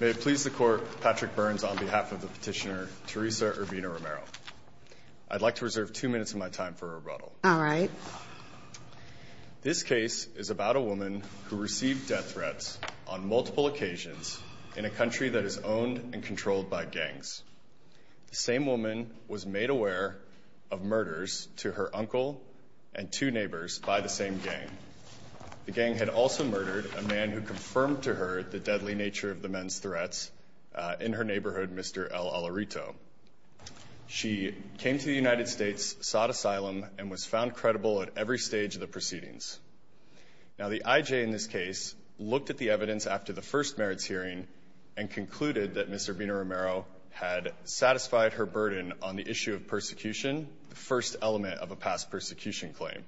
May it please the Court, Patrick Burns on behalf of the petitioner Teresa Urbina-Romero. I'd like to reserve two minutes of my time for rebuttal. All right. This case is about a woman who received death threats on multiple occasions in a country that is owned and controlled by gangs. The same woman was made aware of murders to her uncle and two neighbors by the same gang. The gang had also murdered a man who confirmed to her the deadly nature of the men's threats in her neighborhood, Mr. El Alarito. She came to the United States, sought asylum, and was found credible at every stage of the proceedings. Now the IJ in this case looked at the evidence after the first merits hearing and concluded that Ms. Urbina-Romero had satisfied her burden on the issue of persecution, the first element of a past persecution claim.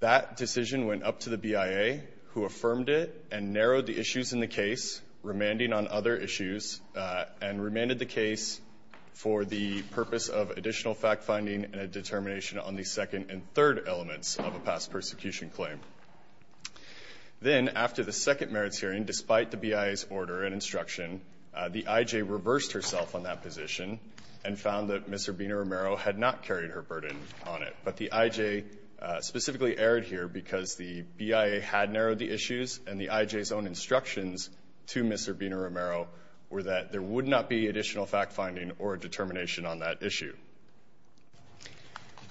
That decision went up to the BIA, who affirmed it and narrowed the issues in the case, remanding on other issues and remanded the case for the purpose of additional fact-finding and a determination on the second and third elements of a past persecution claim. Then after the second merits hearing, despite the BIA's order and instruction, the IJ reversed herself on that position and found that Ms. Urbina-Romero had not carried her burden on it. But the IJ specifically erred here because the BIA had narrowed the issues and the IJ's own instructions to Ms. Urbina-Romero were that there would not be additional fact-finding or a determination on that issue.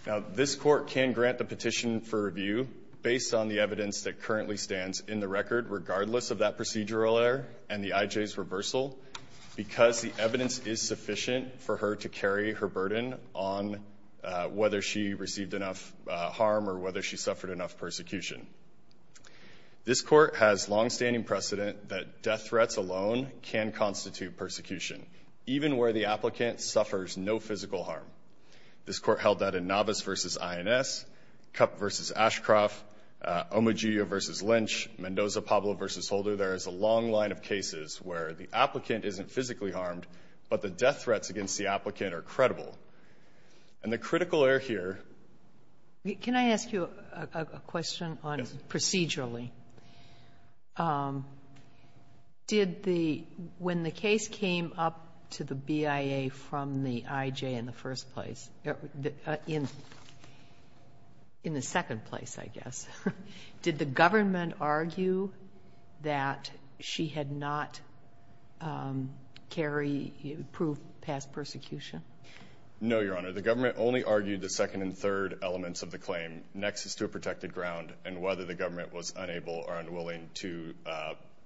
Now this Court can grant the petition for review based on the evidence that currently stands in the record, regardless of that procedural error and the IJ's reversal, because the evidence is sufficient for her to carry her burden on whether she received enough harm or whether she suffered enough persecution. This Court has longstanding precedent that death threats alone can constitute persecution, even where the applicant suffers no physical harm. This Court held that in Navas v. INS, Kupp v. Ashcroft, Omogiu v. Lynch, Mendoza-Pablo v. Holder. There is a long line of cases where the applicant isn't physically harmed, but the death threats against the applicant are credible. And the critical error here ---- Sotomayor, can I ask you a question on procedurally? Did the ---- when the case came up to the BIA from the IJ in the first place, in the second place, I guess, did the government argue that she had not carried, proved past persecution? No, Your Honor. The government only argued the second and third elements of the claim, nexus to a protected ground and whether the government was unable or unwilling to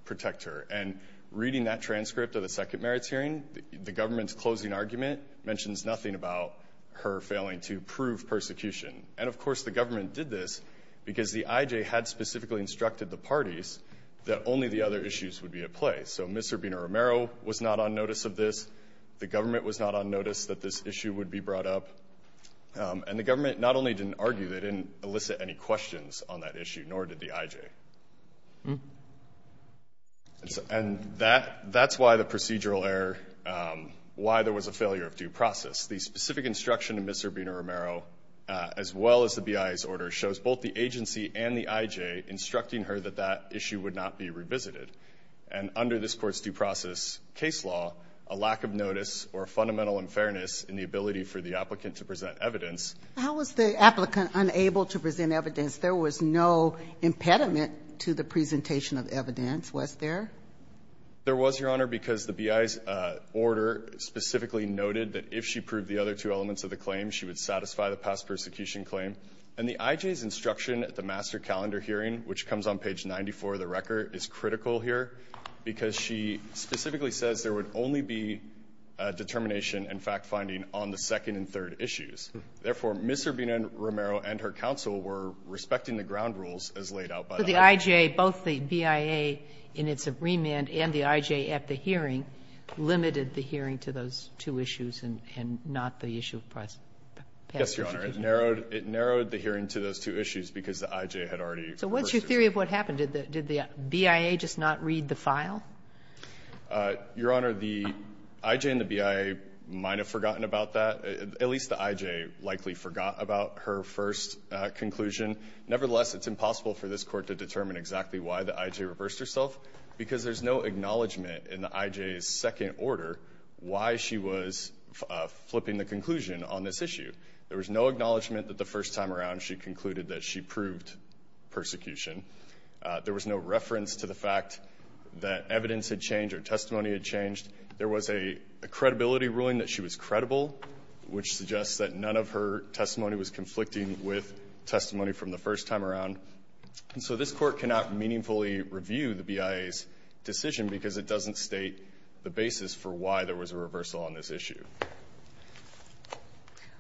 protect her. And reading that transcript of the second merits hearing, the government's closing argument mentions nothing about her failing to prove persecution. And, of course, the government did this because the IJ had specifically instructed the parties that only the other issues would be at play. So Mr. Bina-Romero was not on notice of this. The government was not on notice that this issue would be brought up. And the government not only didn't argue, they didn't elicit any questions on that issue, nor did the IJ. And that's why the procedural error, why there was a failure of due process. The specific instruction of Mr. Bina-Romero, as well as the BIA's order, shows both the agency and the IJ instructing her that that issue would not be revisited. And under this Court's due process case law, a lack of notice or fundamental in fairness in the ability for the applicant to present evidence. Ginsburg. How was the applicant unable to present evidence? There was no impediment to the presentation of evidence, was there? There was, Your Honor, because the BIA's order specifically noted that if she proved the other two elements of the claim, she would satisfy the past persecution claim. And the IJ's instruction at the master calendar hearing, which comes on page 94 of the record, is critical here because she specifically says there would only be determination and fact-finding on the second and third issues. Therefore, Ms. Bina-Romero and her counsel were respecting the ground rules as laid out by the IJ. So the IJ, both the BIA in its agreement and the IJ at the hearing, limited the hearing to those two issues and not the issue of past persecution? Yes, Your Honor. It narrowed the hearing to those two issues because the IJ had already reversed her. So what's your theory of what happened? Did the BIA just not read the file? Your Honor, the IJ and the BIA might have forgotten about that. At least the IJ likely forgot about her first conclusion. Nevertheless, it's impossible for this Court to determine exactly why the IJ reversed herself because there's no acknowledgment in the IJ's second order why she was flipping the conclusion on this issue. There was no acknowledgment that the first time around she concluded that she proved persecution. There was no reference to the fact that evidence had changed or testimony had changed. There was a credibility ruling that she was credible, which suggests that none of her testimony was conflicting with testimony from the first time around. And so this Court cannot meaningfully review the BIA's decision because it doesn't state the basis for why there was a reversal on this issue.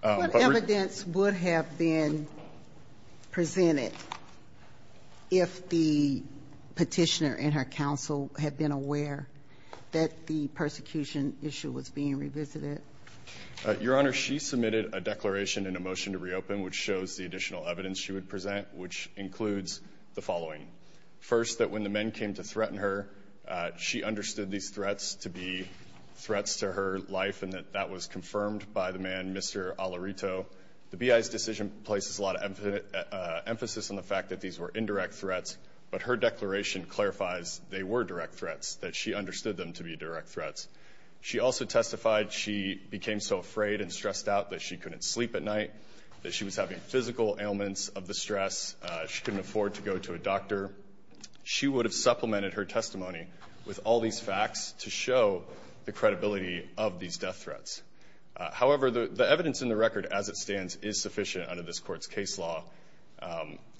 What evidence would have been presented? If the petitioner and her counsel had been aware that the persecution issue was being revisited? Your Honor, she submitted a declaration and a motion to reopen which shows the additional evidence she would present, which includes the following. First, that when the men came to threaten her, she understood these threats to be threats to her life and that that was confirmed by the man, Mr. Alarito. The BIA's decision places a lot of emphasis on the fact that these were indirect threats, but her declaration clarifies they were direct threats, that she understood them to be direct threats. She also testified she became so afraid and stressed out that she couldn't sleep at night, that she was having physical ailments of distress. She couldn't afford to go to a doctor. She would have supplemented her testimony with all these facts to show the credibility of these death threats. However, the evidence in the record as it stands is sufficient under this Court's case law.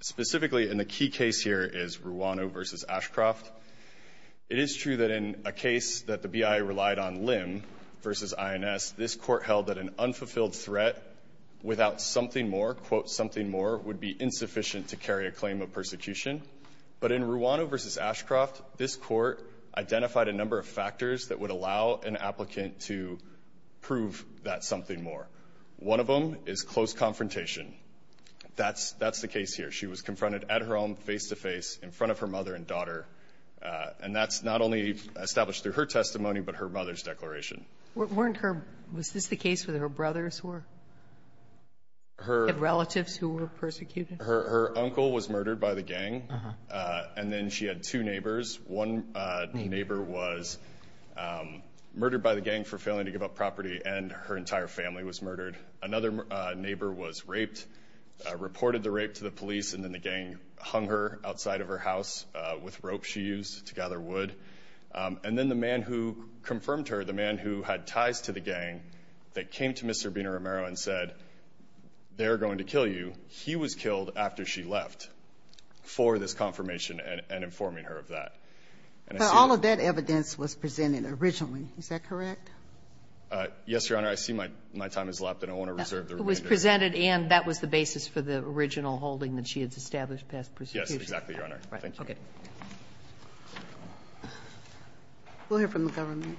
Specifically in the key case here is Ruano v. Ashcroft. It is true that in a case that the BIA relied on LIM v. INS, this Court held that an unfulfilled threat without something more, quote, something more, would be insufficient to carry a claim of persecution. But in Ruano v. Ashcroft, this Court identified a number of factors that would allow an applicant to prove that something more. One of them is close confrontation. That's the case here. She was confronted at her home face-to-face in front of her mother and daughter, and that's not only established through her testimony, but her mother's declaration. Weren't her – was this the case with her brothers who were – her relatives who were persecuted? Her uncle was murdered by the gang, and then she had two neighbors. One neighbor was murdered by the gang for failing to give up property, and her entire family was murdered. Another neighbor was raped, reported the rape to the police, and then the gang hung her outside of her house with ropes she used to gather wood. And then the man who confirmed her, the man who had ties to the gang that came to Mr. Bina-Romero and said, they're going to kill you, he was killed after she left for this confirmation and informing her of that. And I see – But all of that evidence was presented originally. Is that correct? Yes, Your Honor. I see my time has left, and I want to reserve the remainder. It was presented, and that was the basis for the original holding that she had established past persecution. Yes, exactly, Your Honor. Thank you. Right. Okay. We'll hear from the government.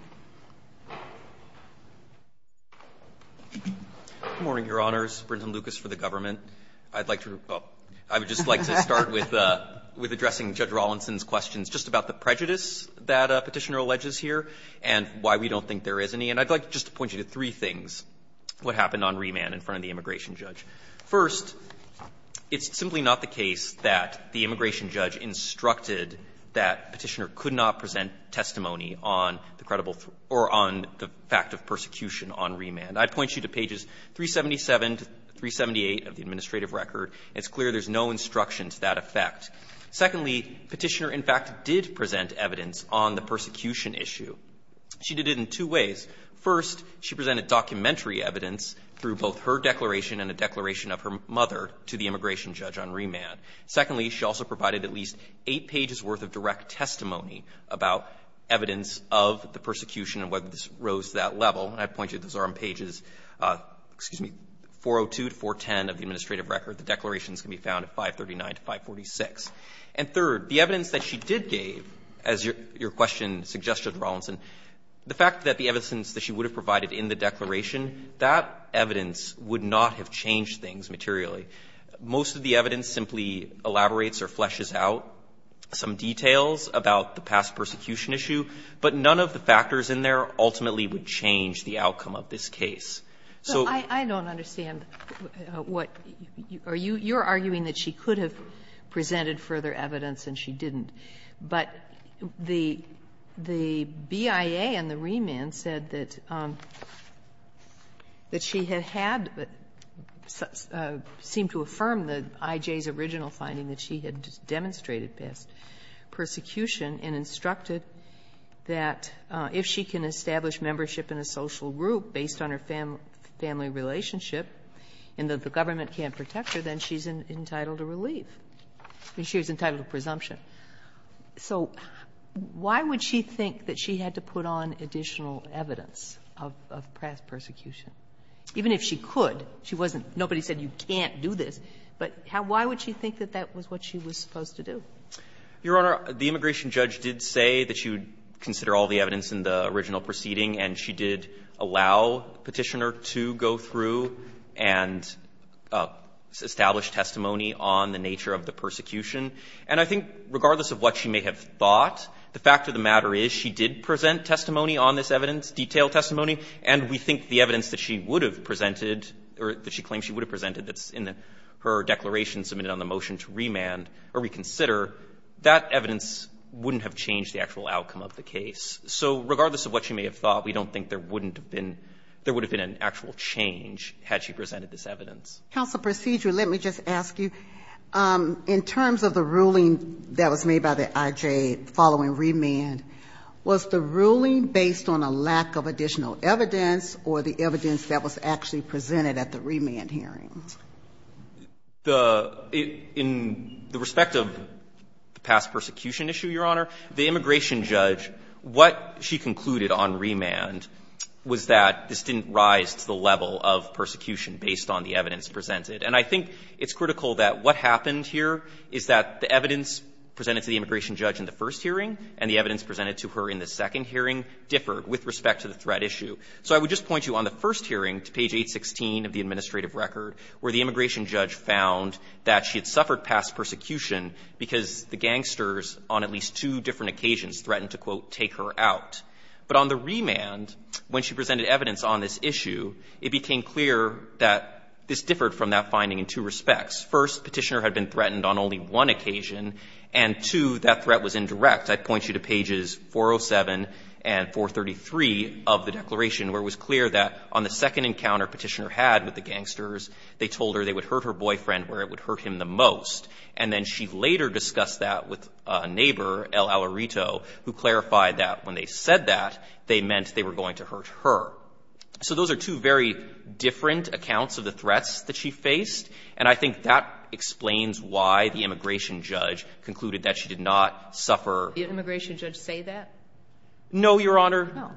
Good morning, Your Honors. Brinton Lucas for the government. I would just like to start with addressing Judge Rawlinson's questions just about the prejudice that Petitioner alleges here and why we don't think there is any. And I'd like just to point you to three things, what happened on remand in front of the immigration judge. First, it's simply not the case that the immigration judge instructed that Petitioner could not present testimony on the credible – or on the fact of persecution on remand. I'd point you to pages 377 to 378 of the administrative record. It's clear there's no instruction to that effect. Secondly, Petitioner, in fact, did present evidence on the persecution issue. She did it in two ways. First, she presented documentary evidence through both her declaration and a declaration of her mother to the immigration judge on remand. Secondly, she also provided at least eight pages' worth of direct testimony about evidence of the persecution and whether this rose to that level. And I'd point you, those are on pages, excuse me, 402 to 410 of the administrative record. The declarations can be found at 539 to 546. And third, the evidence that she did give, as your question suggested, Judge Rawlinson, the fact that the evidence that she would have provided in the declaration, that evidence would not have changed things materially. Most of the evidence simply elaborates or fleshes out some details about the past persecution issue, but none of the factors in there ultimately would change the outcome of this case. So you're arguing that she could have presented further evidence and she didn't. But the BIA and the remand said that she had had, seemed to affirm the IJ's original finding that she had demonstrated past persecution and instructed that if she can establish membership in a social group based on her family relationship and that the government can't protect her, then she's entitled to relief. I mean, she was entitled to presumption. So why would she think that she had to put on additional evidence of past persecution? Even if she could, she wasn't --"Nobody said you can't do this." But why would she think that that was what she was supposed to do? Your Honor, the immigration judge did say that she would consider all the evidence in the original proceeding, and she did allow Petitioner to go through and establish testimony on the nature of the persecution. And I think regardless of what she may have thought, the fact of the matter is she did present testimony on this evidence, detailed testimony, and we think the evidence that she would have presented or that she claims she would have presented that's in her declaration submitted on the motion to remand or reconsider, that evidence wouldn't have changed the actual outcome of the case. So regardless of what she may have thought, we don't think there wouldn't have been an actual change had she presented this evidence. Counsel Procedure, let me just ask you, in terms of the ruling that was made by the IJ following remand, was the ruling based on a lack of additional evidence or the evidence that was actually presented at the remand hearings? The — in the respect of the past persecution issue, Your Honor, the immigration judge, what she concluded on remand was that this didn't rise to the level of persecution based on the evidence presented. And I think it's critical that what happened here is that the evidence presented to the immigration judge in the first hearing and the evidence presented to her in the second hearing differed with respect to the threat issue. So I would just point you, on the first hearing, to page 816 of the administrative record, where the immigration judge found that she had suffered past persecution because the gangsters on at least two different occasions threatened to, quote, take her out. But on the remand, when she presented evidence on this issue, it became clear that this differed from that finding in two respects. First, Petitioner had been threatened on only one occasion, and, two, that threat was indirect. I'd point you to pages 407 and 433 of the declaration, where it was clear that on the second encounter Petitioner had with the gangsters, they told her they would hurt her boyfriend where it would hurt him the most. And then she later discussed that with a neighbor, El Alarito, who clarified that when they said that, they meant they were going to hurt her. So those are two very different accounts of the threats that she faced, and I think that explains why the immigration judge concluded that she did not suffer. Did the immigration judge say that? No, Your Honor. No.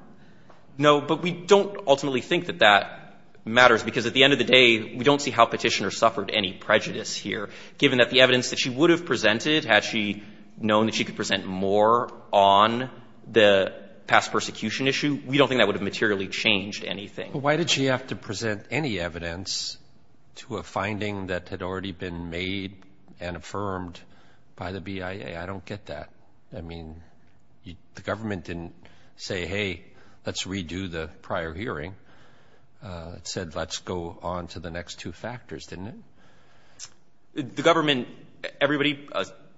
No, but we don't ultimately think that that matters, because at the end of the day, we don't see how Petitioner suffered any prejudice here, given that the evidence that she would have presented, had she known that she could present more on the past persecution issue, we don't think that would have materially changed anything. Why did she have to present any evidence to a finding that had already been made and affirmed by the BIA? I don't get that. I mean, the government didn't say, hey, let's redo the prior hearing. It said, let's go on to the next two factors, didn't it? The government, everybody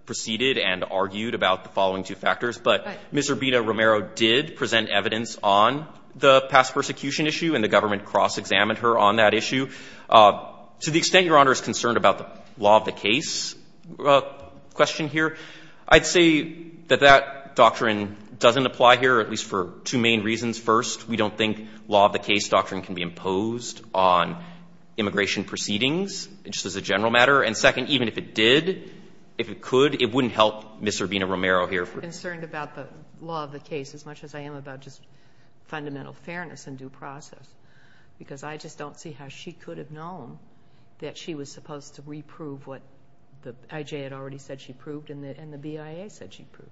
proceeded and argued about the following two factors, but Ms. Urbina-Romero did present evidence on the past persecution issue, and the government cross-examined her on that issue. To the extent Your Honor is concerned about the law of the case question here, I'd say that that doctrine doesn't apply here, at least for two main reasons. First, we don't think law of the case doctrine can be imposed on immigration proceedings, just as a general matter. And second, even if it did, if it could, it wouldn't help Ms. Urbina-Romero here. I'm not concerned about the law of the case as much as I am about just fundamental fairness and due process. Because I just don't see how she could have known that she was supposed to reprove what the I.J. had already said she proved and the BIA said she proved.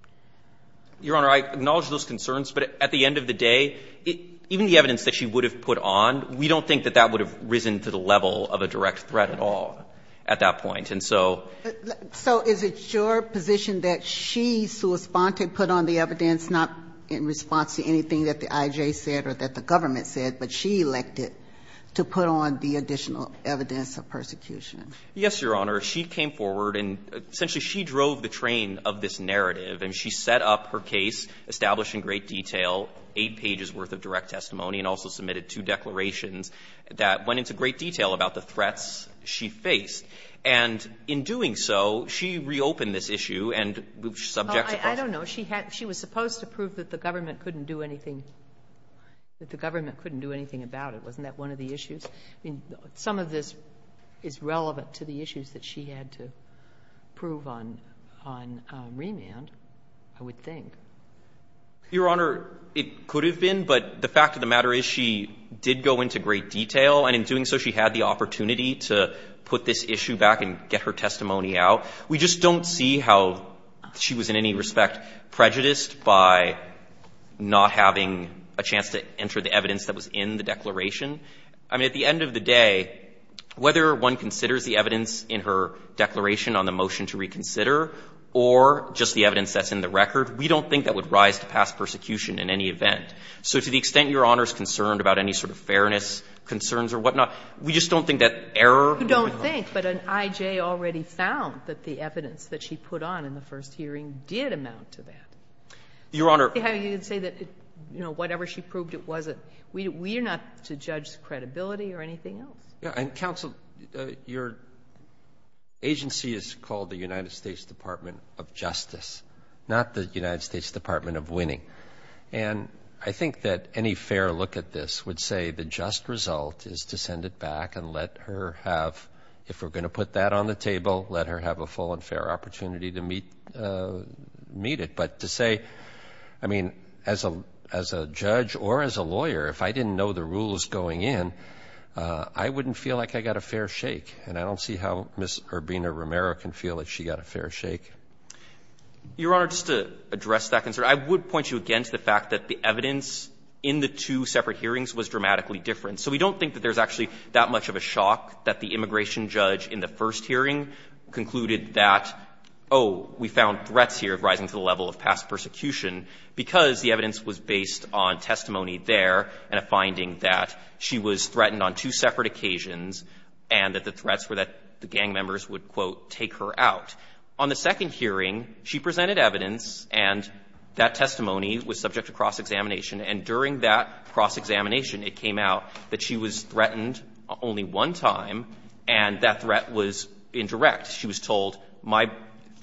Your Honor, I acknowledge those concerns, but at the end of the day, even the evidence that she would have put on, we don't think that that would have risen to the level of a direct threat at all at that point. And so… So is it your position that she, Sua Sponte, put on the evidence not in response to anything that the I.J. said or that the government said, but she elected to put on the additional evidence of persecution? Yes, Your Honor. She came forward and essentially she drove the train of this narrative, and she set up her case, established in great detail, eight pages' worth of direct testimony and also submitted two declarations that went into great detail about the threats she faced. And in doing so, she reopened this issue and was subject to both… That the government couldn't do anything about it. Wasn't that one of the issues? I mean, some of this is relevant to the issues that she had to prove on remand, I would think. Your Honor, it could have been, but the fact of the matter is she did go into great detail, and in doing so, she had the opportunity to put this issue back and get her testimony out. We just don't see how she was in any respect prejudiced by not having a chance to enter the evidence that was in the declaration. I mean, at the end of the day, whether one considers the evidence in her declaration on the motion to reconsider or just the evidence that's in the record, we don't think that would rise to pass persecution in any event. So to the extent Your Honor is concerned about any sort of fairness concerns or whatnot, we just don't think that error would be enough. I think, but an I.J. already found that the evidence that she put on in the first hearing did amount to that. Your Honor… You can say that, you know, whatever she proved, it wasn't… We're not to judge credibility or anything else. And, counsel, your agency is called the United States Department of Justice, not the United States Department of Winning. And I think that any fair look at this would say the just result is to send it back and let her have, if we're going to put that on the table, let her have a full and fair opportunity to meet it. But to say, I mean, as a judge or as a lawyer, if I didn't know the rules going in, I wouldn't feel like I got a fair shake. And I don't see how Ms. Urbina-Romero can feel that she got a fair shake. Your Honor, just to address that concern, I would point you again to the fact that the evidence in the two separate hearings was dramatically different. So we don't think that there's actually that much of a shock that the immigration judge in the first hearing concluded that, oh, we found threats here of rising to the level of past persecution, because the evidence was based on testimony there and a finding that she was threatened on two separate occasions and that the threats were that the gang members would, quote, take her out. On the second hearing, she presented evidence, and that testimony was subject to cross-examination, and during that cross-examination, it came out that the evidence was that she was threatened only one time, and that threat was indirect. She was told, my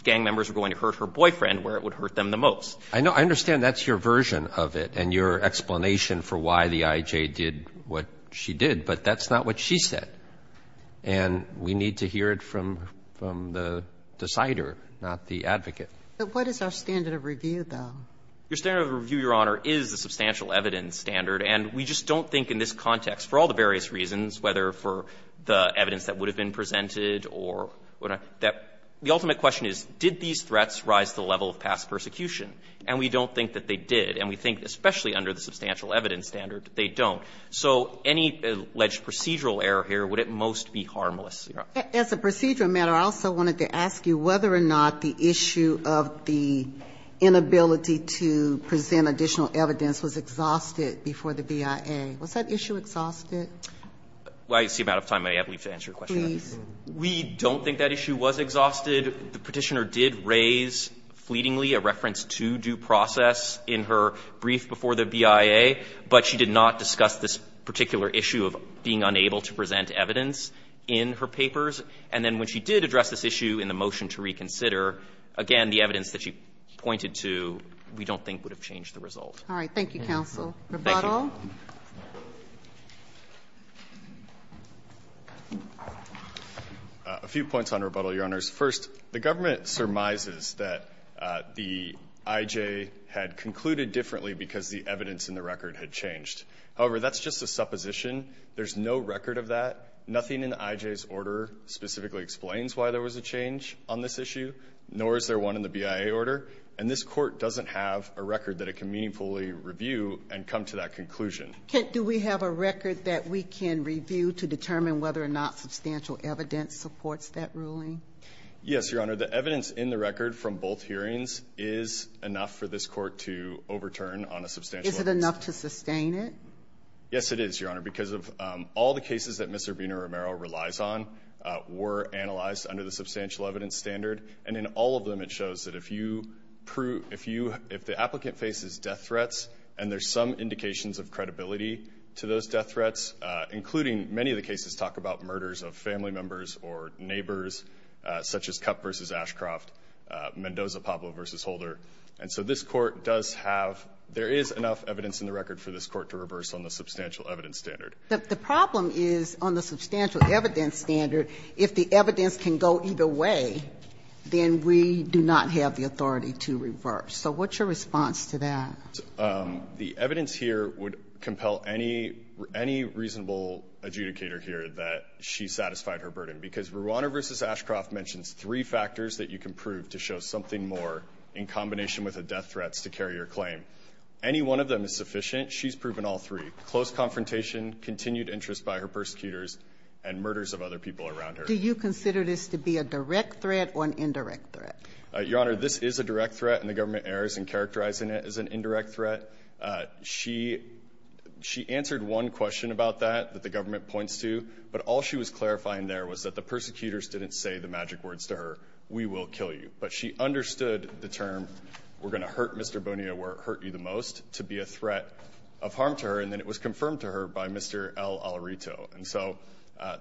gang members are going to hurt her boyfriend where it would hurt them the most. Roberts, I know, I understand that's your version of it and your explanation for why the I.J. did what she did, but that's not what she said. And we need to hear it from the decider, not the advocate. But what is our standard of review, though? Your standard of review, Your Honor, is the substantial evidence standard. And we just don't think in this context, for all the various reasons, whether for the evidence that would have been presented or what not, that the ultimate question is, did these threats rise to the level of past persecution? And we don't think that they did, and we think, especially under the substantial evidence standard, they don't. So any alleged procedural error here would at most be harmless, Your Honor. As a procedural matter, I also wanted to ask you whether or not the issue of the brief was exhausted before the BIA. Was that issue exhausted? Well, I see I'm out of time. I have to leave to answer your question. Please. We don't think that issue was exhausted. The Petitioner did raise fleetingly a reference to due process in her brief before the BIA, but she did not discuss this particular issue of being unable to present evidence in her papers. And then when she did address this issue in the motion to reconsider, again, the evidence that she pointed to we don't think would have changed the result. All right. Thank you, counsel. Thank you. Rebuttal. A few points on rebuttal, Your Honors. First, the government surmises that the IJ had concluded differently because the evidence in the record had changed. However, that's just a supposition. There's no record of that. Nothing in the IJ's order specifically explains why there was a change on this issue, nor is there one in the BIA order. And this Court doesn't have a record that it can meaningfully review and come to that conclusion. Do we have a record that we can review to determine whether or not substantial evidence supports that ruling? Yes, Your Honor. The evidence in the record from both hearings is enough for this Court to overturn on a substantial basis. Is it enough to sustain it? Yes, it is, Your Honor, because of all the cases that Mr. Bino-Romero relies on were analyzed under the substantial evidence standard. And in all of them, it shows that if you prove — if you — if the applicant faces death threats, and there's some indications of credibility to those death threats, including many of the cases talk about murders of family members or neighbors, such as Kupp v. Ashcroft, Mendoza-Pablo v. Holder. And so this Court does have — there is enough evidence in the record for this Court to reverse on the substantial evidence standard. The problem is, on the substantial evidence standard, if the evidence can go either way, then we do not have the authority to reverse. So what's your response to that? The evidence here would compel any — any reasonable adjudicator here that she satisfied her burden, because Rwanda v. Ashcroft mentions three factors that you can prove to show something more in combination with the death threats to carry your claim. Any one of them is sufficient. She's proven all three, close confrontation, continued interest by her persecutors, and murders of other people around her. Do you consider this to be a direct threat or an indirect threat? Your Honor, this is a direct threat, and the government errs in characterizing it as an indirect threat. She — she answered one question about that, that the government points to, but all she was clarifying there was that the persecutors didn't say the magic words to her, we will kill you. But she understood the term, we're going to hurt Mr. Bonilla where it hurt you the most, to be a threat of harm to her, and then it was confirmed to her by Mr. L. Alrito. And so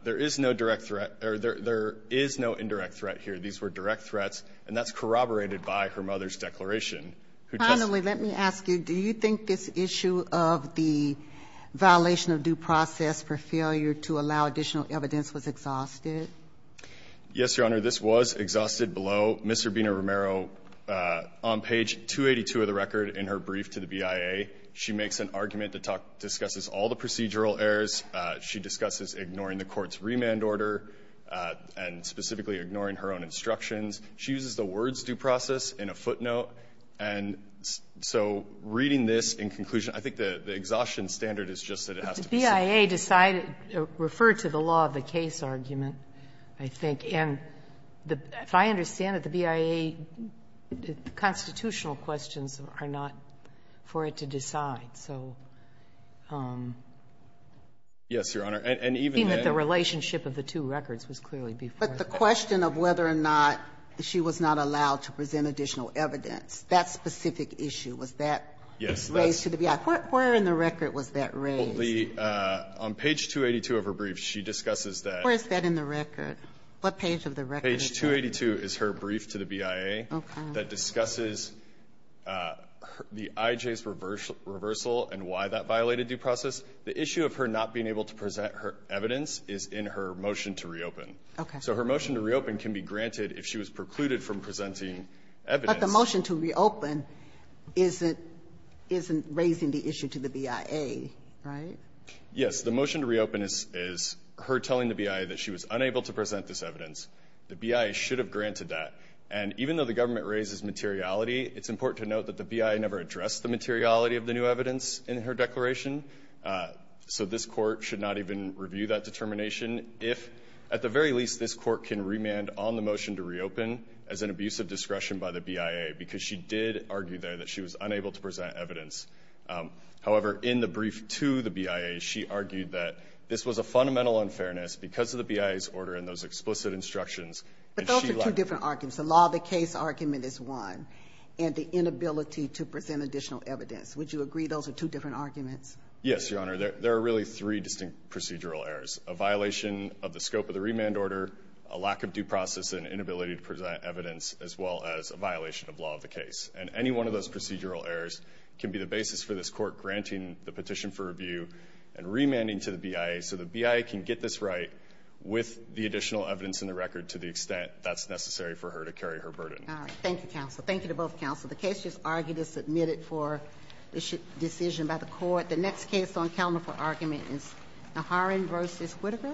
there is no direct threat or there is no indirect threat here. These were direct threats, and that's corroborated by her mother's declaration. Finally, let me ask you, do you think this issue of the violation of due process for failure to allow additional evidence was exhausted? Yes, Your Honor, this was exhausted below. Ms. Urbina-Romero, on page 282 of the record in her brief to the BIA, she makes an argument that discusses all the procedural errors. She discusses ignoring the Court's remand order and specifically ignoring her own instructions. She uses the words due process in a footnote. And so reading this in conclusion, I think the exhaustion standard is just that it has to be said. But the BIA decided — referred to the law of the case argument, I think. And the — if I understand it, the BIA constitutional questions are not for it to decide. So — Yes, Your Honor. And even then — I think that the relationship of the two records was clearly before that. But the question of whether or not she was not allowed to present additional evidence, that specific issue, was that — Yes, that's —— raised to the BIA. Where in the record was that raised? On page 282 of her brief, she discusses that — Where is that in the record? What page of the record is that? Page 282 is her brief to the BIA — Okay. — that discusses the IJ's reversal and why that violated due process. The issue of her not being able to present her evidence is in her motion to reopen. Okay. So her motion to reopen can be granted if she was precluded from presenting evidence. But the motion to reopen isn't raising the issue to the BIA, right? Yes. The motion to reopen is her telling the BIA that she was unable to present this evidence. The BIA should have granted that. And even though the government raises materiality, it's important to note that the BIA never addressed the materiality of the new evidence in her declaration. So this Court should not even review that determination if, at the very least, this Court can remand on the motion to reopen as an abuse of discretion by the BIA, because she did argue there that she was unable to present evidence. However, in the brief to the BIA, she argued that this was a fundamental unfairness because of the BIA's order and those explicit instructions. But those are two different arguments. The law of the case argument is one, and the inability to present additional evidence. Would you agree those are two different arguments? Yes, Your Honor. There are really three distinct procedural errors. A violation of the scope of the remand order, a lack of due process, and inability to present evidence, as well as a violation of law of the case. And any one of those procedural errors can be the basis for this Court granting the petition for review and remanding to the BIA so the BIA can get this right with the additional evidence in the record to the extent that's necessary for her to carry her burden. All right. Thank you, counsel. Thank you to both counsel. The case just argued is submitted for decision by the Court. The next case on calendar for argument is Naharan v. Whitaker.